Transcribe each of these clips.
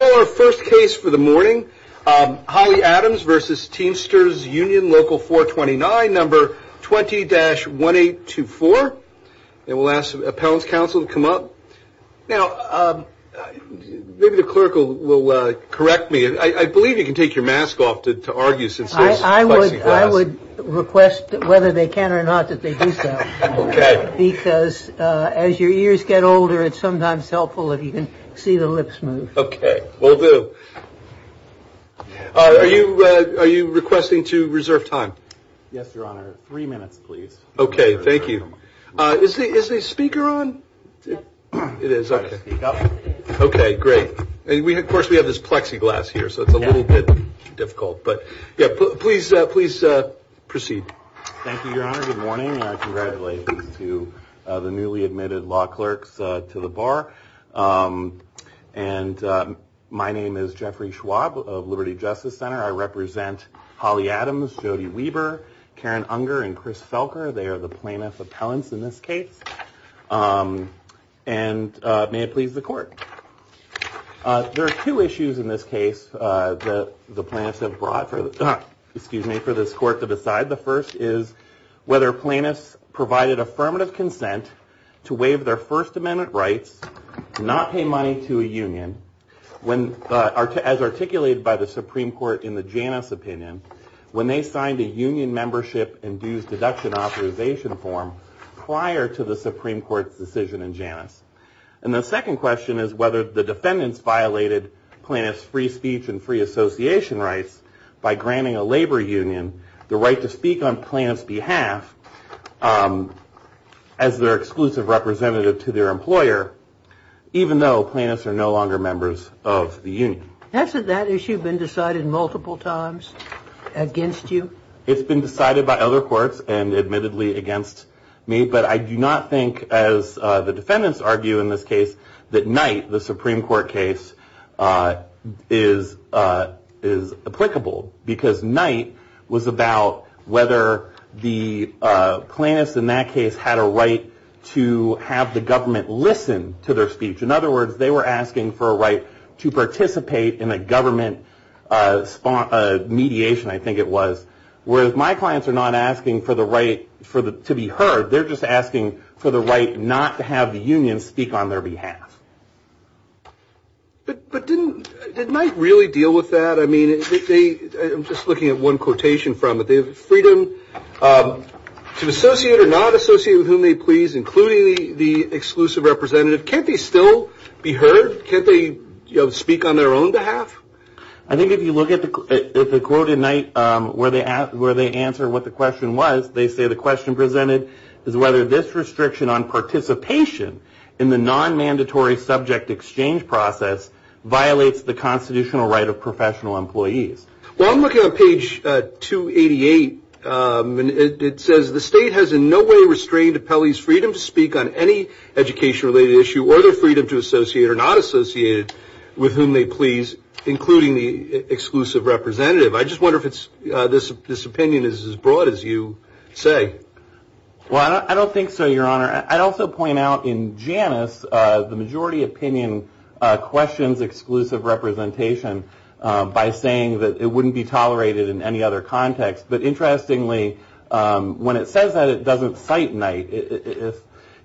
Our first case for the morning, Holly Adams v. Teamsters Union Local429, No. 20-1824. And we'll ask the appellant's counsel to come up. Now, maybe the clerk will correct me. I believe you can take your mask off to argue since this is a fussy class. I would request, whether they can or not, that they do so. Because as your ears get older, it's sometimes helpful if you can see the lips move. Okay, will do. Are you requesting to reserve time? Yes, Your Honor. Three minutes, please. Okay, thank you. Is the speaker on? It is, okay. Okay, great. Of course, we have this plexiglass here, so it's a little bit difficult. But, yeah, please proceed. Good morning, and congratulations to the newly admitted law clerks to the bar. And my name is Jeffrey Schwab of Liberty Justice Center. I represent Holly Adams, Jody Weber, Karen Unger, and Chris Felker. They are the plaintiff appellants in this case. And may it please the court. There are two issues in this case that the plaintiffs have brought for this court to decide. The first is whether plaintiffs provided affirmative consent to waive their First Amendment rights, not pay money to a union, as articulated by the Supreme Court in the Janus opinion, when they signed a union membership and dues deduction authorization form prior to the Supreme Court's decision in Janus. And the second question is whether the defendants violated plaintiffs' free speech and free association rights by granting a labor union the right to speak on plaintiff's behalf as their exclusive representative to their employer, even though plaintiffs are no longer members of the union. Hasn't that issue been decided multiple times against you? It's been decided by other courts and admittedly against me. But I do not think, as the defendants argue in this case, that Knight, the Supreme Court case, is applicable. Because Knight was about whether the plaintiffs in that case had a right to have the government listen to their speech. In other words, they were asking for a right to participate in a government mediation, I think it was. Whereas my clients are not asking for the right to be heard. They're just asking for the right not to have the union speak on their behalf. But didn't Knight really deal with that? I mean, I'm just looking at one quotation from it. They have freedom to associate or not associate with whom they please, including the exclusive representative. Can't they still be heard? Can't they speak on their own behalf? I think if you look at the quote in Knight, where they answer what the question was, they say the question presented is whether this restriction on participation in the non-mandatory subject exchange process violates the constitutional right of professional employees. Well, I'm looking on page 288, and it says, the state has in no way restrained Appellee's freedom to speak on any education-related issue or their freedom to associate or not associate with whom they please, including the exclusive representative. I just wonder if this opinion is as broad as you say. Well, I don't think so, Your Honor. I'd also point out in Janus, the majority opinion questions exclusive representation by saying that it wouldn't be tolerated in any other context. But interestingly, when it says that, it doesn't cite Knight.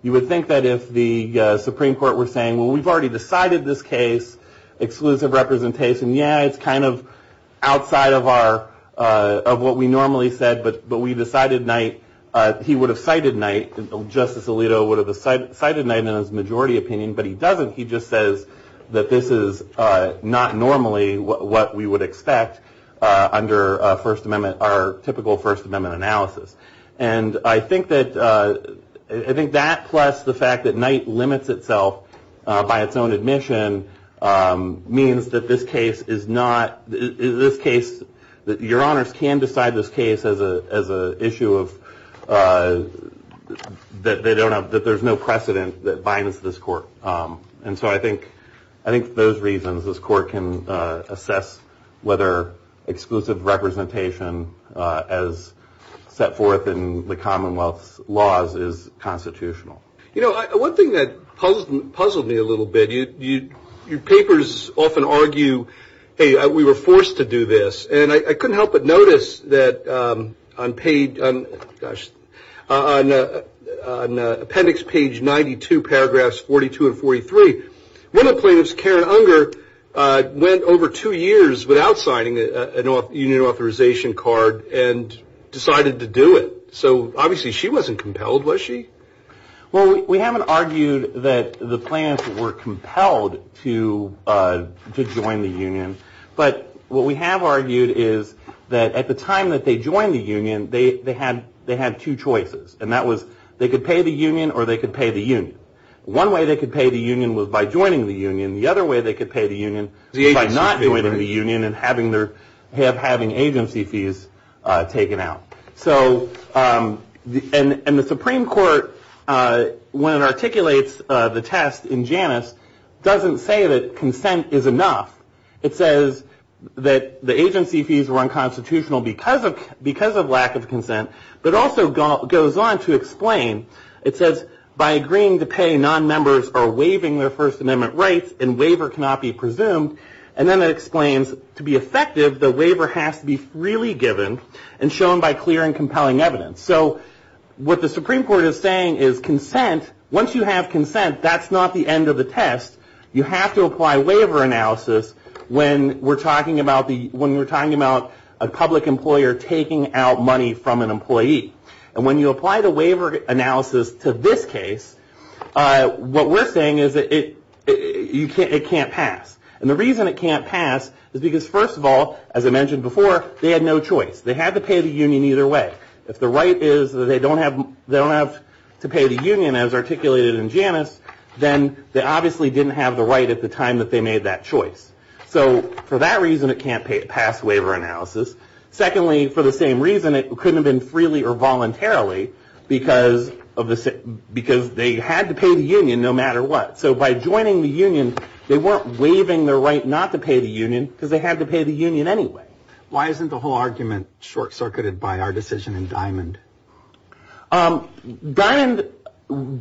You would think that if the Supreme Court were saying, well, we've already decided this case, exclusive representation. Yeah, it's kind of outside of what we normally said, but we decided Knight. He would have cited Knight. Justice Alito would have cited Knight in his majority opinion, but he doesn't. He just says that this is not normally what we would expect under our typical First Amendment analysis. And I think that plus the fact that Knight limits itself by its own admission means that this case is not, that Your Honors can decide this case as an issue that there's no precedent that binds this court. And so I think those reasons, this court can assess whether exclusive representation as set forth in the Commonwealth's laws is constitutional. You know, one thing that puzzled me a little bit, your papers often argue, hey, we were forced to do this. And I couldn't help but notice that on page, gosh, on appendix page 92, paragraphs 42 and 43, one of the plaintiffs, Karen Unger, went over two years without signing a union authorization card and decided to do it. So obviously she wasn't compelled, was she? Well, we haven't argued that the plaintiffs were compelled to join the union. But what we have argued is that at the time that they joined the union, they had two choices. And that was they could pay the union or they could pay the union. One way they could pay the union was by joining the union. The other way they could pay the union was by not joining the union and having agency fees taken out. So and the Supreme Court, when it articulates the test in Janus, doesn't say that consent is enough. It says that the agency fees were unconstitutional because of lack of consent, but also goes on to explain, it says by agreeing to pay, non-members are waiving their First Amendment rights and waiver cannot be presumed. And then it explains to be effective, the waiver has to be freely given and shown by clear and compelling evidence. So what the Supreme Court is saying is consent, once you have consent, that's not the end of the test. You have to apply waiver analysis when we're talking about a public employer taking out money from an employee. And when you apply the waiver analysis to this case, what we're saying is that it can't pass. And the reason it can't pass is because, first of all, as I mentioned before, they had no choice. They had to pay the union either way. If the right is that they don't have to pay the union as articulated in Janus, then they obviously didn't have the right at the time that they made that choice. So for that reason, it can't pass waiver analysis. Secondly, for the same reason, it couldn't have been freely or voluntarily because they had to pay the union no matter what. So by joining the union, they weren't waiving their right not to pay the union because they had to pay the union anyway. Why isn't the whole argument short-circuited by our decision in Diamond? Diamond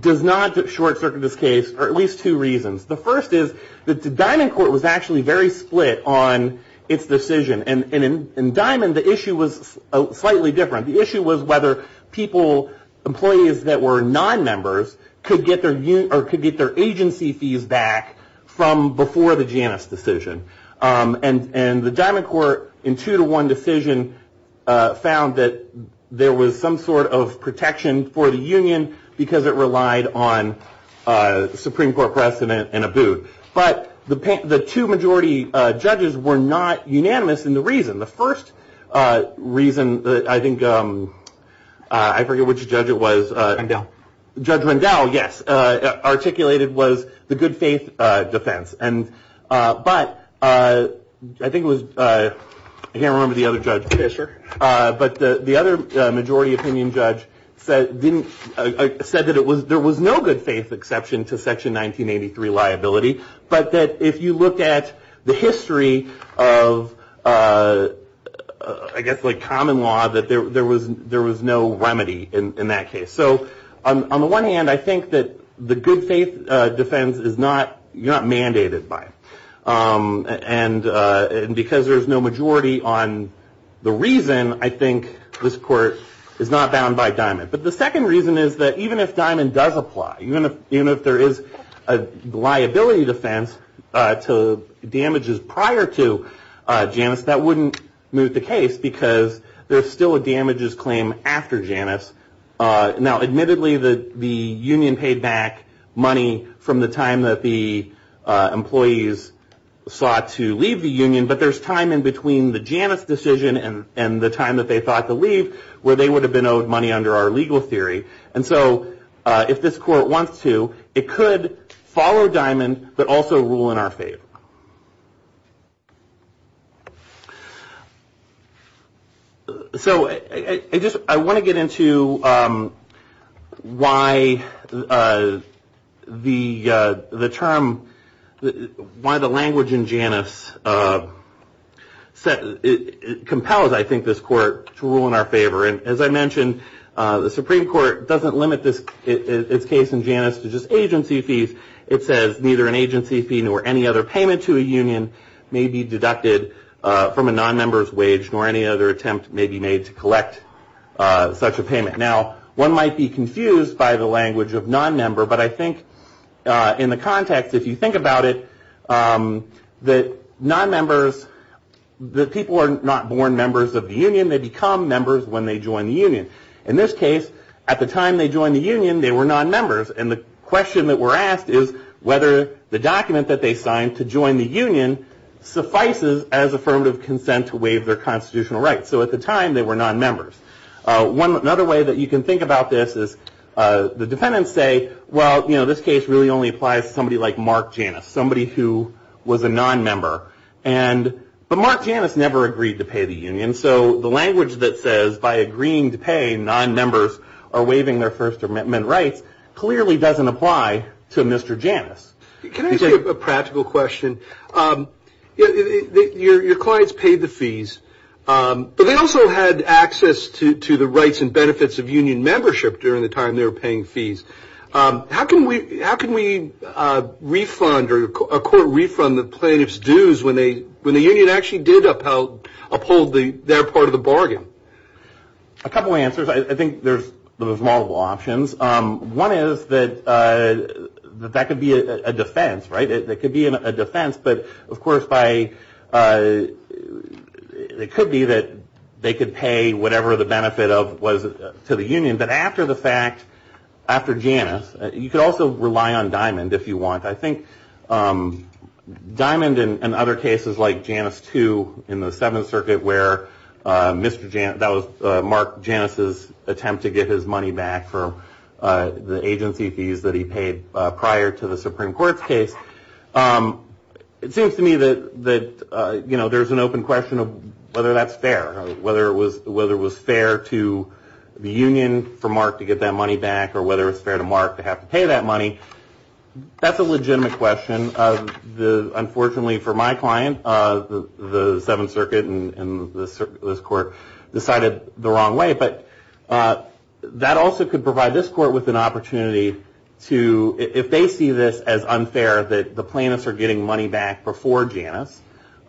does not short-circuit this case for at least two reasons. The first is that the Diamond Court was actually very split on its decision. And in Diamond, the issue was slightly different. The issue was whether people, employees that were non-members, could get their agency fees back from before the Janus decision. And the Diamond Court, in two-to-one decision, found that there was some sort of protection for the union because it relied on Supreme Court precedent and a boot. But the two majority judges were not unanimous in the reason. The first reason that I think, I forget which judge it was. Rundell. Judge Rundell, yes, articulated was the good faith defense. And but I think it was, I can't remember the other judge. Fisher. But the other majority opinion judge said that there was no good faith exception to Section 1983 liability. But that if you looked at the history of, I guess, like common law, that there was no remedy in that case. So on the one hand, I think that the good faith defense is not mandated by. And because there's no majority on the reason, I think this court is not bound by Diamond. But the second reason is that even if Diamond does apply, even if there is a liability defense to damages prior to Janus, that wouldn't move the case because there's still a damages claim after Janus. Now, admittedly, the union paid back money from the time that the employees sought to leave the union. But there's time in between the Janus decision and the time that they thought to leave where they would have been owed money under our legal theory. And so if this court wants to, it could follow Diamond, but also rule in our favor. So, I just, I want to get into why the term, why the language in Janus compels, I think, this court to rule in our favor. And as I mentioned, the Supreme Court doesn't limit its case in Janus to just agency fees. It says neither an agency fee nor any other payment to a union may be deducted from a non-member's wage, nor any other attempt may be made to collect such a payment. Now, one might be confused by the language of non-member, but I think in the context, if you think about it, that non-members, that people are not born members of the union, they become members when they join the union. In this case, at the time they joined the union, they were non-members. And the question that we're asked is whether the document that they signed to join the union suffices as affirmative consent to waive their constitutional rights. So at the time, they were non-members. Another way that you can think about this is the defendants say, well, you know, this case really only applies to somebody like Mark Janus, somebody who was a non-member. But Mark Janus never agreed to pay the union. And so the language that says, by agreeing to pay, non-members are waiving their First Amendment rights, clearly doesn't apply to Mr. Janus. Can I ask you a practical question? Your clients paid the fees, but they also had access to the rights and benefits of union membership during the time they were paying fees. How can we refund or a court refund the plaintiff's dues when the union actually did uphold their part of the bargain? A couple answers. I think there's multiple options. One is that that could be a defense, right? It could be a defense. But, of course, it could be that they could pay whatever the benefit was to the union. But after the fact, after Janus, you could also rely on Diamond if you want. I think Diamond and other cases like Janus II in the Seventh Circuit where Mr. Janus, that was Mark Janus's attempt to get his money back for the agency fees that he paid prior to the Supreme Court's case. It seems to me that, you know, there's an open question of whether that's fair, whether it was fair to the union for Mark to get that money back or whether it's fair to Mark to have to pay that money. That's a legitimate question. Unfortunately for my client, the Seventh Circuit and this court decided the wrong way. But that also could provide this court with an opportunity to, if they see this as unfair, that the plaintiffs are getting money back before Janus,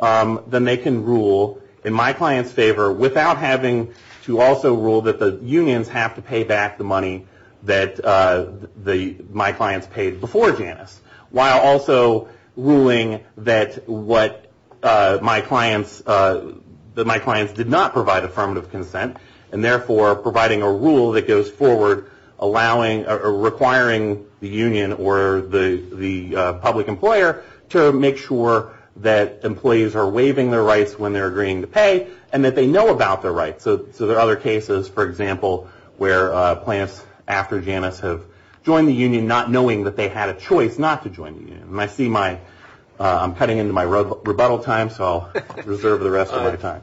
then they can rule in my client's favor without having to also rule that the unions have to pay back the money that my clients paid before Janus, while also ruling that my clients did not provide affirmative consent, and therefore providing a rule that goes forward requiring the union or the public employer to make sure that employees are waiving their rights when they're agreeing to pay, and that they know about their rights. So there are other cases, for example, where plaintiffs after Janus have joined the union not knowing that they had a choice not to join the union. I'm cutting into my rebuttal time, so I'll reserve the rest of my time.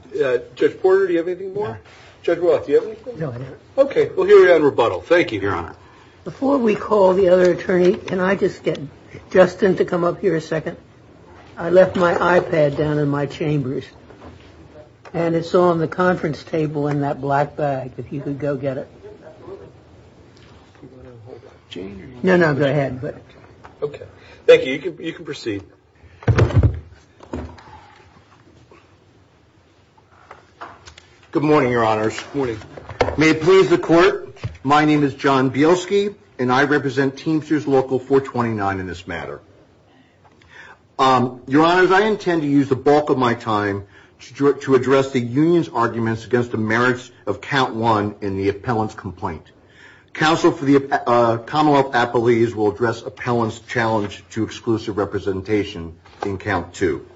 Judge Porter, do you have anything more? Judge Roth, do you have anything? No, I don't. Okay, well, here we are in rebuttal. Thank you, Your Honor. Before we call the other attorney, can I just get Justin to come up here a second? I left my iPad down in my chambers, and it's on the conference table in that black bag. If you could go get it. No, no, go ahead. Okay, thank you. You can proceed. Good morning, Your Honors. Good morning. May it please the Court, my name is John Bielski, and I represent Teamsters Local 429 in this matter. Your Honors, I intend to use the bulk of my time to address the union's arguments against the merits of Count 1 in the appellant's complaint. Council for the Commonwealth Appellees will address appellant's challenge to exclusive representation in Count 2.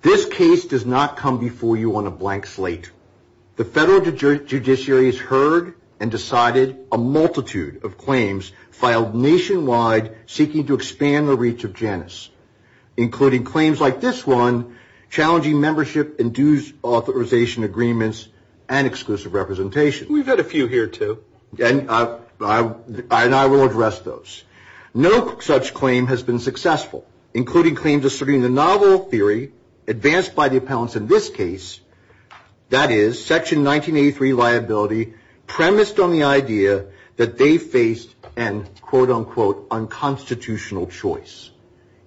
This case does not come before you on a blank slate. The federal judiciary has heard and decided a multitude of claims filed nationwide seeking to expand the reach of Janus, including claims like this one, challenging membership and dues authorization agreements and exclusive representation. We've had a few here, too. And I will address those. No such claim has been successful, including claims asserting the novel theory advanced by the appellants in this case, that is, Section 1983 liability, premised on the idea that they faced an, quote, unquote, unconstitutional choice.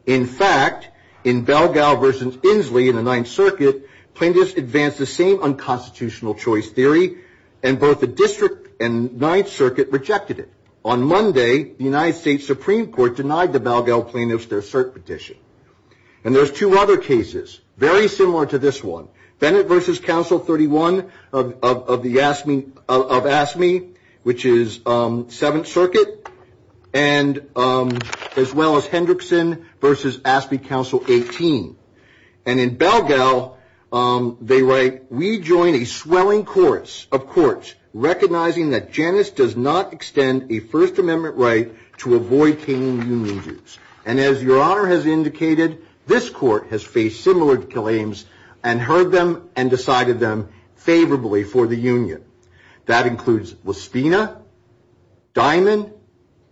In fact, in Belgal v. Inslee in the Ninth Circuit, plaintiffs advanced the same unconstitutional choice theory and both the District and Ninth Circuit rejected it. On Monday, the United States Supreme Court denied the Belgal plaintiffs their cert petition. And there's two other cases very similar to this one, Bennett v. Council 31 of AFSCME, which is Seventh Circuit, as well as Hendrickson v. AFSCME Council 18. And in Belgal, they write, we join a swelling chorus of courts recognizing that Janus does not extend a First Amendment right to avoid paying union dues. And as Your Honor has indicated, this court has faced similar claims and heard them and decided them favorably for the union. That includes LaSpina, Diamond,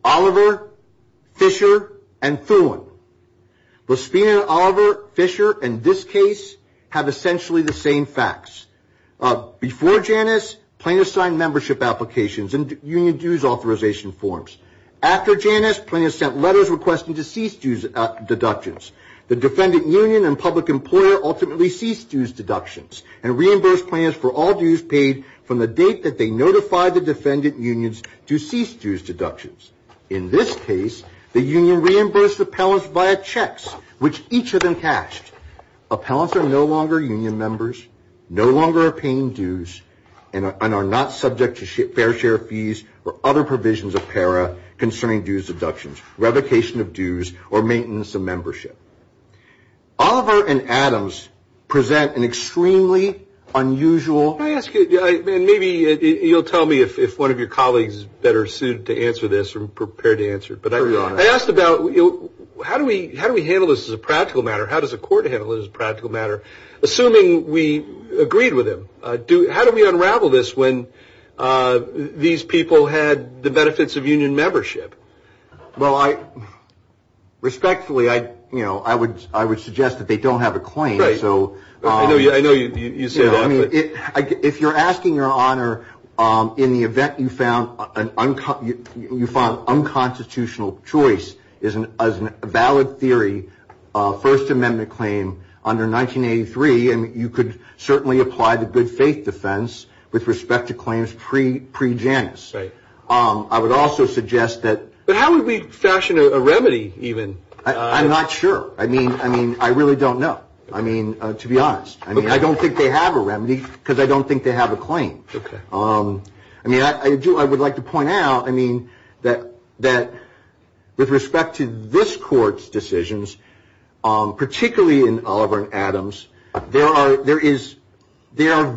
Oliver, Fisher, and Thulin. LaSpina, Oliver, Fisher, and this case have essentially the same facts. Before Janus, plaintiffs signed membership applications and union dues authorization forms. After Janus, plaintiffs sent letters requesting to cease dues deductions. The defendant union and public employer ultimately ceased dues deductions and reimbursed plans for all dues paid from the date that they notified the defendant unions to cease dues deductions. In this case, the union reimbursed the appellants via checks, which each of them cashed. Appellants are no longer union members, no longer are paying dues, and are not subject to fair share fees or other provisions of PARA concerning dues deductions, revocation of dues, or maintenance of membership. Oliver and Adams present an extremely unusual Can I ask you, and maybe you'll tell me if one of your colleagues is better suited to answer this or prepared to answer it. I asked about how do we handle this as a practical matter? How does a court handle this as a practical matter? Assuming we agreed with him, how do we unravel this when these people had the benefits of union membership? Well, respectfully, I would suggest that they don't have a claim. I know you said that. If you're asking your honor in the event you found unconstitutional choice as a valid theory, a First Amendment claim under 1983, you could certainly apply the good faith defense with respect to claims pre-Janus. I would also suggest that But how would we fashion a remedy even? I'm not sure. I mean, I really don't know. I mean, to be honest. I mean, I don't think they have a remedy because I don't think they have a claim. I mean, I do. I would like to point out, I mean, that with respect to this court's decisions, particularly in Oliver and Adams, they are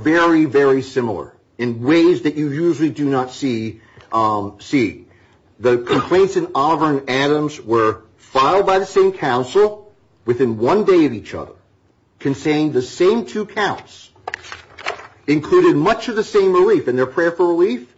very, very similar in ways that you usually do not see. The complaints in Oliver and Adams were filed by the same counsel within one day of each other, contained the same two counts, included much of the same relief in their prayer for relief.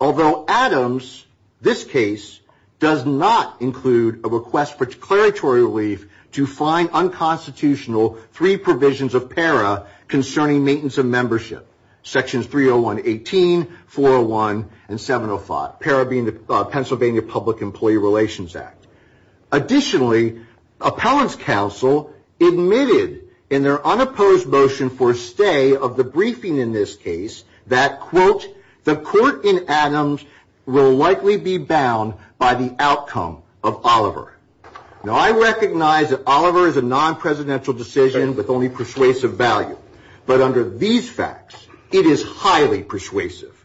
Although Adams, this case, does not include a request for declaratory relief to find unconstitutional three provisions of P.A.R.A. concerning maintenance of membership, sections 301.18, 401, and 705, P.A.R.A. being the Pennsylvania Public Employee Relations Act. Additionally, appellant's counsel admitted in their unopposed motion for stay of the briefing in this case that, quote, the court in Adams will likely be bound by the outcome of Oliver. Now, I recognize that Oliver is a non-presidential decision with only persuasive value. But under these facts, it is highly persuasive.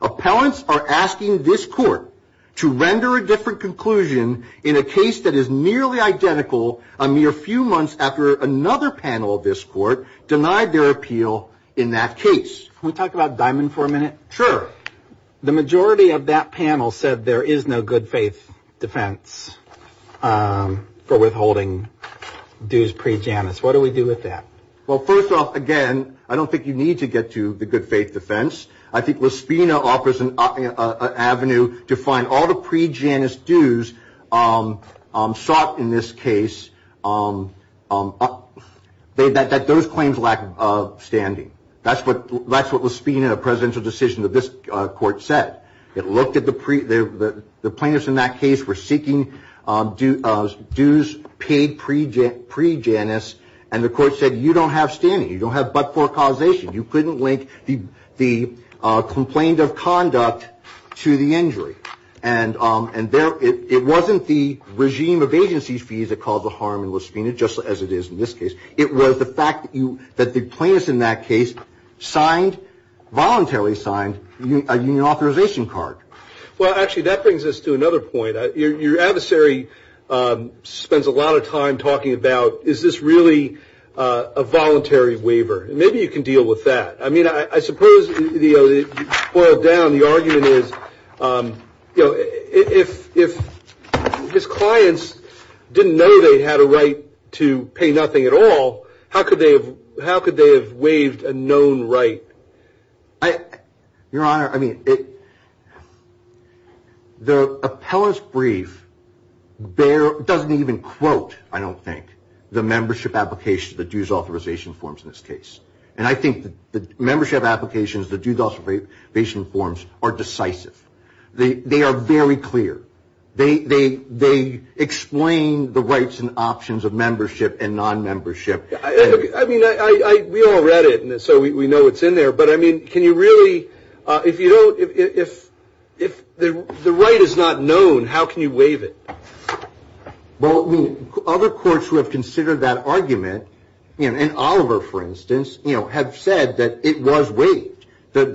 Appellants are asking this court to render a different conclusion in a case that is nearly identical a mere few months after another panel of this court denied their appeal in that case. Can we talk about Diamond for a minute? Sure. The majority of that panel said there is no good faith defense for withholding dues pre-Janus. What do we do with that? Well, first off, again, I don't think you need to get to the good faith defense. I think Lispina offers an avenue to find all the pre-Janus dues sought in this case that those claims lack standing. That's what Lispina, a presidential decision of this court, said. It looked at the plaintiffs in that case were seeking dues paid pre-Janus, and the court said you don't have standing. You don't have but-for causation. You couldn't link the complaint of conduct to the injury. And it wasn't the regime of agency fees that caused the harm in Lispina, just as it is in this case. It was the fact that the plaintiffs in that case signed, voluntarily signed, a union authorization card. Well, actually, that brings us to another point. Your adversary spends a lot of time talking about is this really a voluntary waiver. Maybe you can deal with that. I mean, I suppose, boiled down, the argument is if his clients didn't know they had a right to pay nothing at all, how could they have waived a known right? Your Honor, I mean, the appellate's brief doesn't even quote, I don't think, the membership application, the dues authorization forms in this case. And I think the membership applications, the dues authorization forms, are decisive. They are very clear. They explain the rights and options of membership and non-membership. I mean, we all read it, so we know it's in there. But, I mean, can you really, if you don't, if the right is not known, how can you waive it? Well, I mean, other courts who have considered that argument, and Oliver, for instance, have said that it was waived, that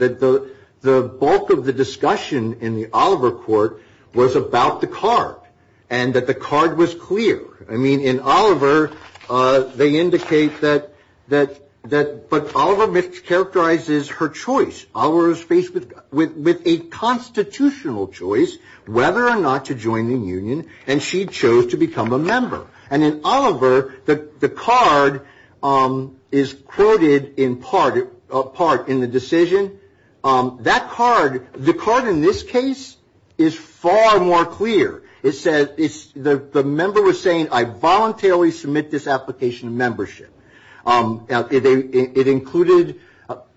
the bulk of the discussion in the Oliver court was about the card, and that the card was clear. I mean, in Oliver, they indicate that, but Oliver mischaracterizes her choice. Oliver was faced with a constitutional choice, whether or not to join the union, and she chose to become a member. And in Oliver, the card is quoted in part in the decision. That card, the card in this case, is far more clear. It says, the member was saying, I voluntarily submit this application of membership. It included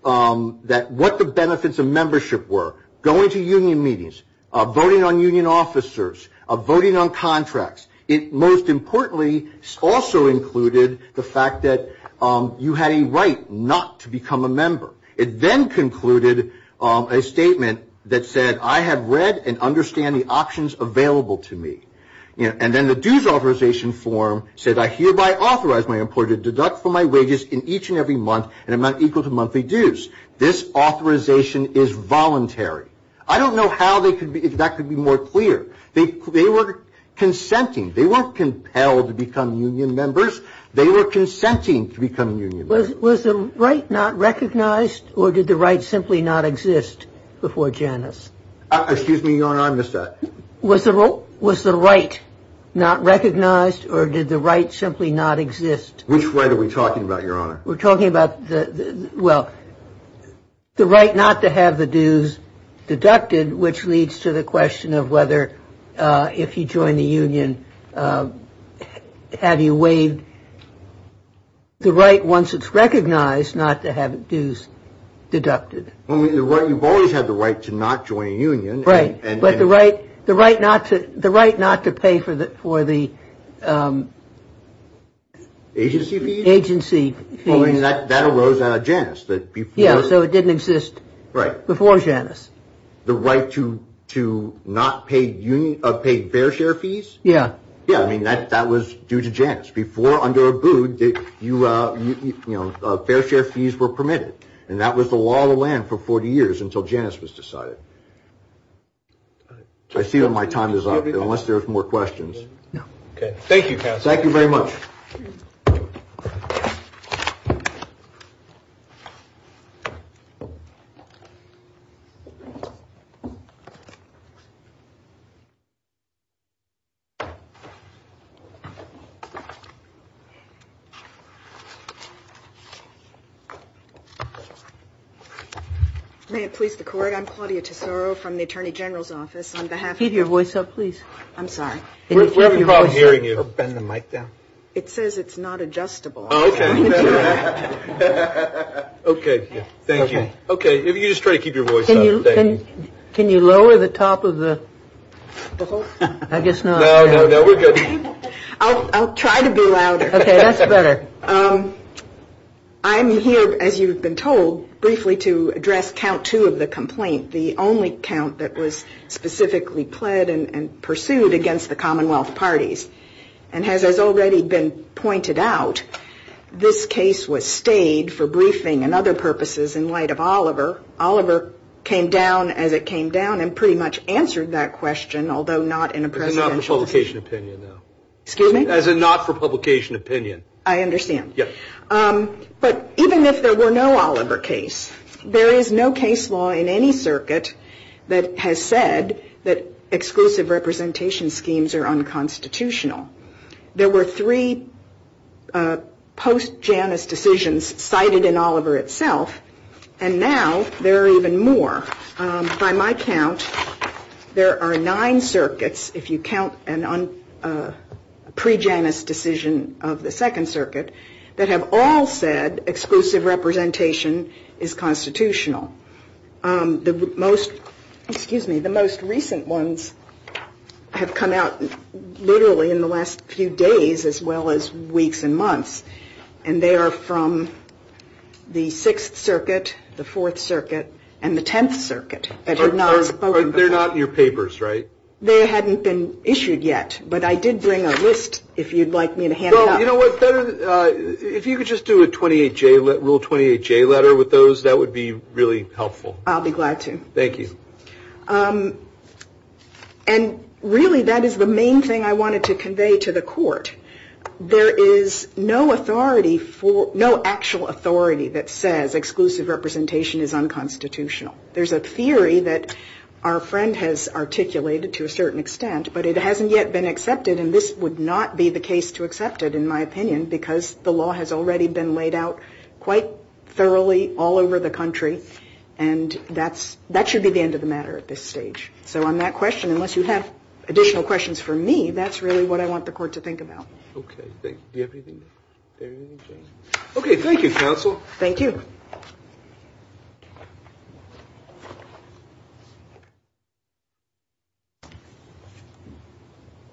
what the benefits of membership were, going to union meetings, voting on union officers, voting on contracts. It most importantly also included the fact that you had a right not to become a member. It then concluded a statement that said, I have read and understand the options available to me. And then the dues authorization form said, I hereby authorize my employer to deduct from my wages in each and every month an amount equal to monthly dues. This authorization is voluntary. I don't know how that could be more clear. They were consenting. They weren't compelled to become union members. They were consenting to become union members. Was the right not recognized, or did the right simply not exist before Janus? Excuse me, you're on, I missed that. Was the right not recognized, or did the right simply not exist? Which right are we talking about, Your Honor? We're talking about, well, the right not to have the dues deducted, which leads to the question of whether, if you join the union, have you waived the right, once it's recognized, not to have dues deducted. Well, you've always had the right to not join a union. Right, but the right not to pay for the agency fees. That arose out of Janus. Yeah, so it didn't exist before Janus. The right to not pay fair share fees? Yeah. Yeah, I mean, that was due to Janus. Before, under Abood, fair share fees were permitted. And that was the law of the land for 40 years, until Janus was decided. I see that my time is up, unless there's more questions. No. Okay, thank you, counsel. Thank you very much. May it please the Court? I'm Claudia Tesoro from the Attorney General's Office. On behalf of the Court. Keep your voice up, please. I'm sorry. We're having trouble hearing you. Bend the mic down. It says it's not adjustable. Oh, okay. Okay, thank you. Okay, if you just try to keep your voice up. Can you lower the top of the, I guess not. No, no, no, we're good. I'll try to be louder. Okay, that's better. I'm here, as you've been told, briefly to address count two of the complaint, the only count that was specifically pled and pursued against the Commonwealth parties. And as has already been pointed out, this case was stayed for briefing and other purposes in light of Oliver. Oliver came down as it came down and pretty much answered that question, although not in a presidential. As a not for publication opinion, though. Excuse me? As a not for publication opinion. I understand. Yes. But even if there were no Oliver case, there is no case law in any circuit that has said that exclusive representation schemes are unconstitutional. There were three post-Janus decisions cited in Oliver itself, and now there are even more. By my count, there are nine circuits, if you count a pre-Janus decision of the Second Circuit, that have all said exclusive representation is constitutional. The most recent ones have come out literally in the last few days as well as weeks and months, and they are from the Sixth Circuit, the Fourth Circuit, and the Tenth Circuit. But they're not your papers, right? They hadn't been issued yet, but I did bring a list if you'd like me to hand it out. If you could just do a Rule 28J letter with those, that would be really helpful. I'll be glad to. Thank you. And really, that is the main thing I wanted to convey to the Court. There is no authority for no actual authority that says exclusive representation is unconstitutional. There's a theory that our friend has articulated to a certain extent, but it hasn't yet been accepted, and this would not be the case to accept it, in my opinion, because the law has already been laid out quite thoroughly all over the country, and that should be the end of the matter at this stage. So on that question, unless you have additional questions for me, that's really what I want the Court to think about. Okay, thank you, Counsel. Thank you.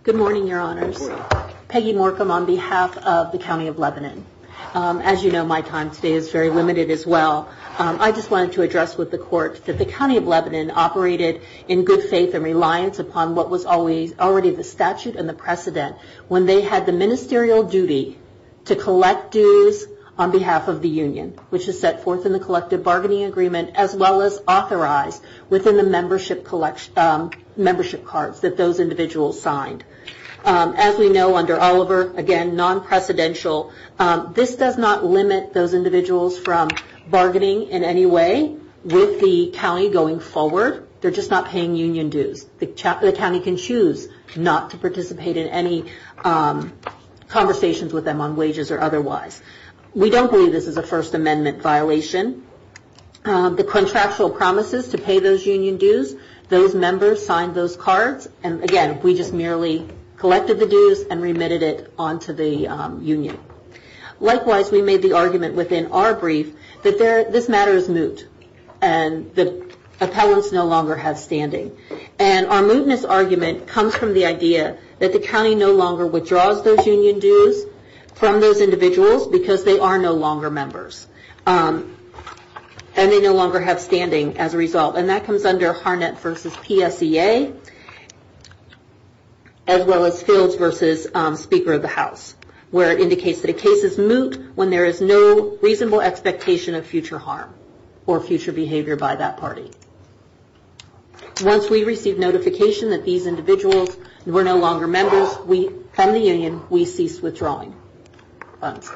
Good morning, Your Honors. Good morning. Peggy Morcom on behalf of the County of Lebanon. As you know, my time today is very limited as well. I just wanted to address with the Court that the County of Lebanon operated in good faith and reliance upon what was already the statute and the precedent when they had the ministerial duty to collect dues on behalf of the union, which is set forth in the collective bargaining agreement, as well as authorized within the membership cards that those individuals signed. As we know, under Oliver, again, non-precedential, this does not limit those individuals from bargaining in any way with the county going forward. They're just not paying union dues. The county can choose not to participate in any conversations with them on wages or otherwise. We don't believe this is a First Amendment violation. The contractual promises to pay those union dues, those members signed those cards, and again, we just merely collected the dues and remitted it onto the union. Likewise, we made the argument within our brief that this matter is moot and the appellants no longer have standing. And our mootness argument comes from the idea that the county no longer withdraws those union dues from those individuals because they are no longer members and they no longer have standing as a result. And that comes under Harnett v. PSEA, as well as Fields v. Speaker of the House, where it indicates that a case is moot when there is no reasonable expectation of future harm or future behavior by that party. Once we receive notification that these individuals were no longer members from the union, we ceased withdrawing funds.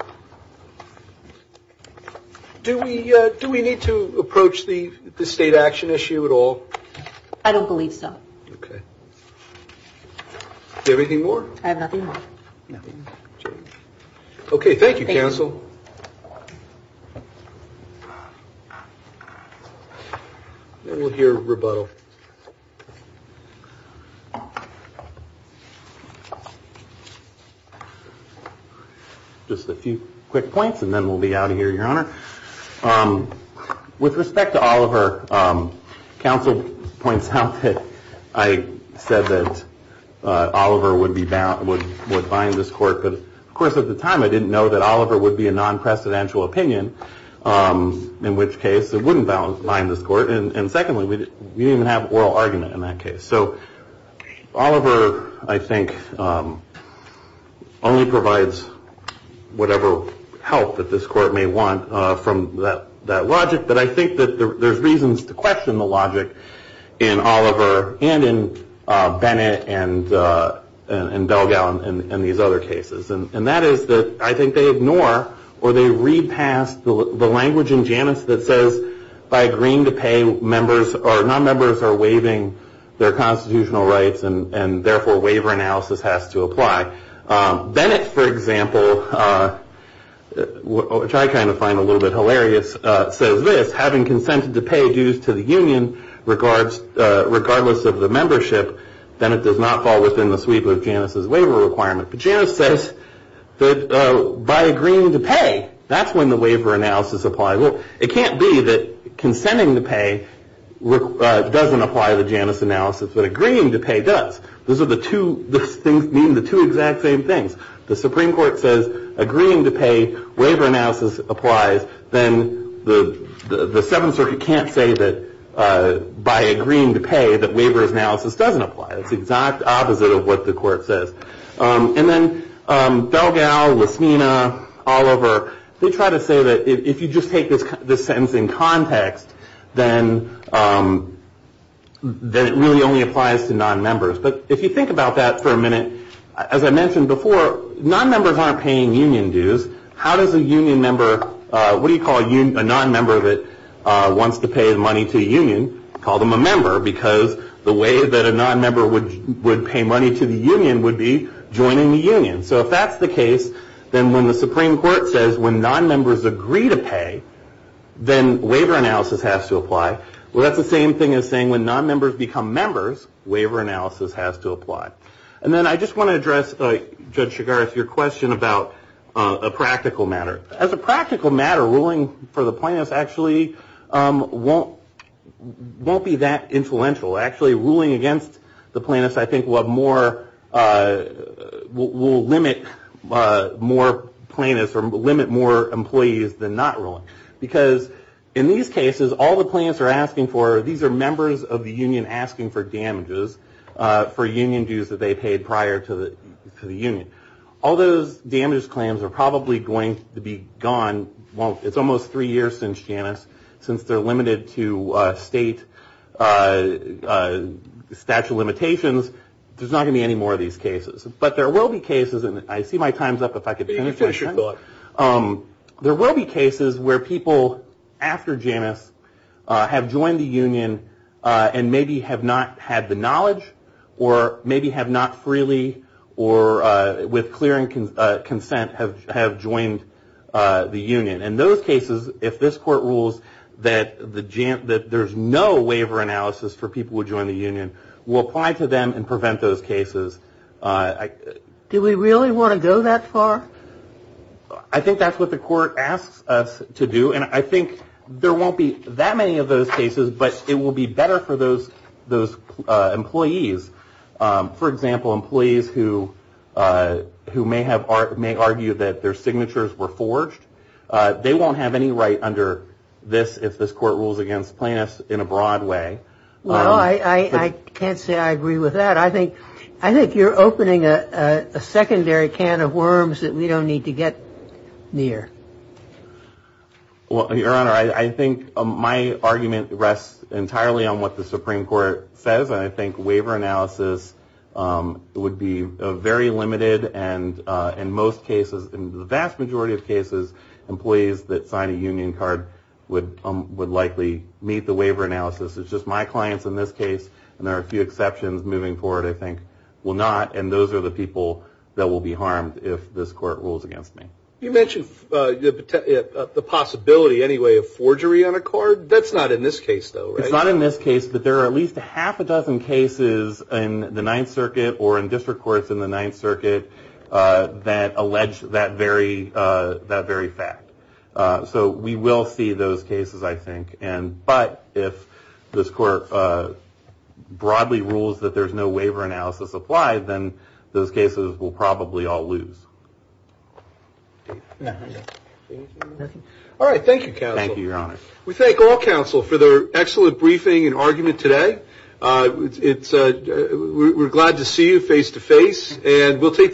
Do we need to approach the state action issue at all? I don't believe so. Okay. Do you have anything more? I have nothing more. Okay. Thank you, counsel. We'll hear rebuttal. Just a few quick points and then we'll be out of here, Your Honor. With respect to Oliver, counsel points out that I said that Oliver would bind this court, but of course at the time I didn't know that Oliver would be a non-precedential opinion, in which case it wouldn't bind this court. And secondly, we didn't even have oral argument in that case. So Oliver, I think, only provides whatever help that this court may want from that logic, but I think that there's reasons to question the logic in Oliver and in Bennett and Belgal and these other cases, and that is that I think they ignore or they read past the language in Janus that says, by agreeing to pay members or non-members are waiving their constitutional rights and therefore waiver analysis has to apply. Bennett, for example, which I kind of find a little bit hilarious, says this, having consented to pay dues to the union regardless of the membership, Bennett does not fall within the sweep of Janus's waiver requirement. But Janus says that by agreeing to pay, that's when the waiver analysis applies. Well, it can't be that consenting to pay doesn't apply to Janus analysis, but agreeing to pay does. These are the two things, meaning the two exact same things. The Supreme Court says agreeing to pay, waiver analysis applies, then the Seventh Circuit can't say that by agreeing to pay that waiver analysis doesn't apply. It's the exact opposite of what the court says. And then Felgal, Lasmina, Oliver, they try to say that if you just take this sentence in context, then it really only applies to non-members. But if you think about that for a minute, as I mentioned before, non-members aren't paying union dues. How does a union member, what do you call a non-member that wants to pay money to a union? Call them a member because the way that a non-member would pay money to the union would be joining the union. So if that's the case, then when the Supreme Court says when non-members agree to pay, then waiver analysis has to apply. Well, that's the same thing as saying when non-members become members, waiver analysis has to apply. And then I just want to address, Judge Chigaris, your question about a practical matter. As a practical matter, ruling for the plaintiffs actually won't be that influential. Actually, ruling against the plaintiffs, I think, will limit more plaintiffs or limit more employees than not ruling. Because in these cases, all the plaintiffs are asking for, these are members of the union asking for damages for union dues that they paid prior to the union. All those damage claims are probably going to be gone. It's almost three years since JANUS, since they're limited to state statute of limitations. There's not going to be any more of these cases. But there will be cases, and I see my time's up if I could finish my sentence. There will be cases where people after JANUS have joined the union and maybe have not had the knowledge or maybe have not freely or with clearing consent have joined the union. In those cases, if this court rules that there's no waiver analysis for people who join the union, we'll apply to them and prevent those cases. Do we really want to go that far? I think that's what the court asks us to do. And I think there won't be that many of those cases, but it will be better for those employees. For example, employees who may argue that their signatures were forged, they won't have any right under this if this court rules against plaintiffs in a broad way. Well, I can't say I agree with that. I think you're opening a secondary can of worms that we don't need to get near. Well, Your Honor, I think my argument rests entirely on what the Supreme Court says, and I think waiver analysis would be very limited. And in most cases, in the vast majority of cases, employees that sign a union card would likely meet the waiver analysis. It's just my clients in this case, and there are a few exceptions moving forward, I think, will not. And those are the people that will be harmed if this court rules against me. You mentioned the possibility, anyway, of forgery on a card. That's not in this case, though, right? It's not in this case, but there are at least a half a dozen cases in the Ninth Circuit or in district courts in the Ninth Circuit that allege that very fact. So we will see those cases, I think. But if this court broadly rules that there's no waiver analysis applied, then those cases will probably all lose. All right, thank you, counsel. Thank you, Your Honor. We thank all counsel for their excellent briefing and argument today. We're glad to see you face to face,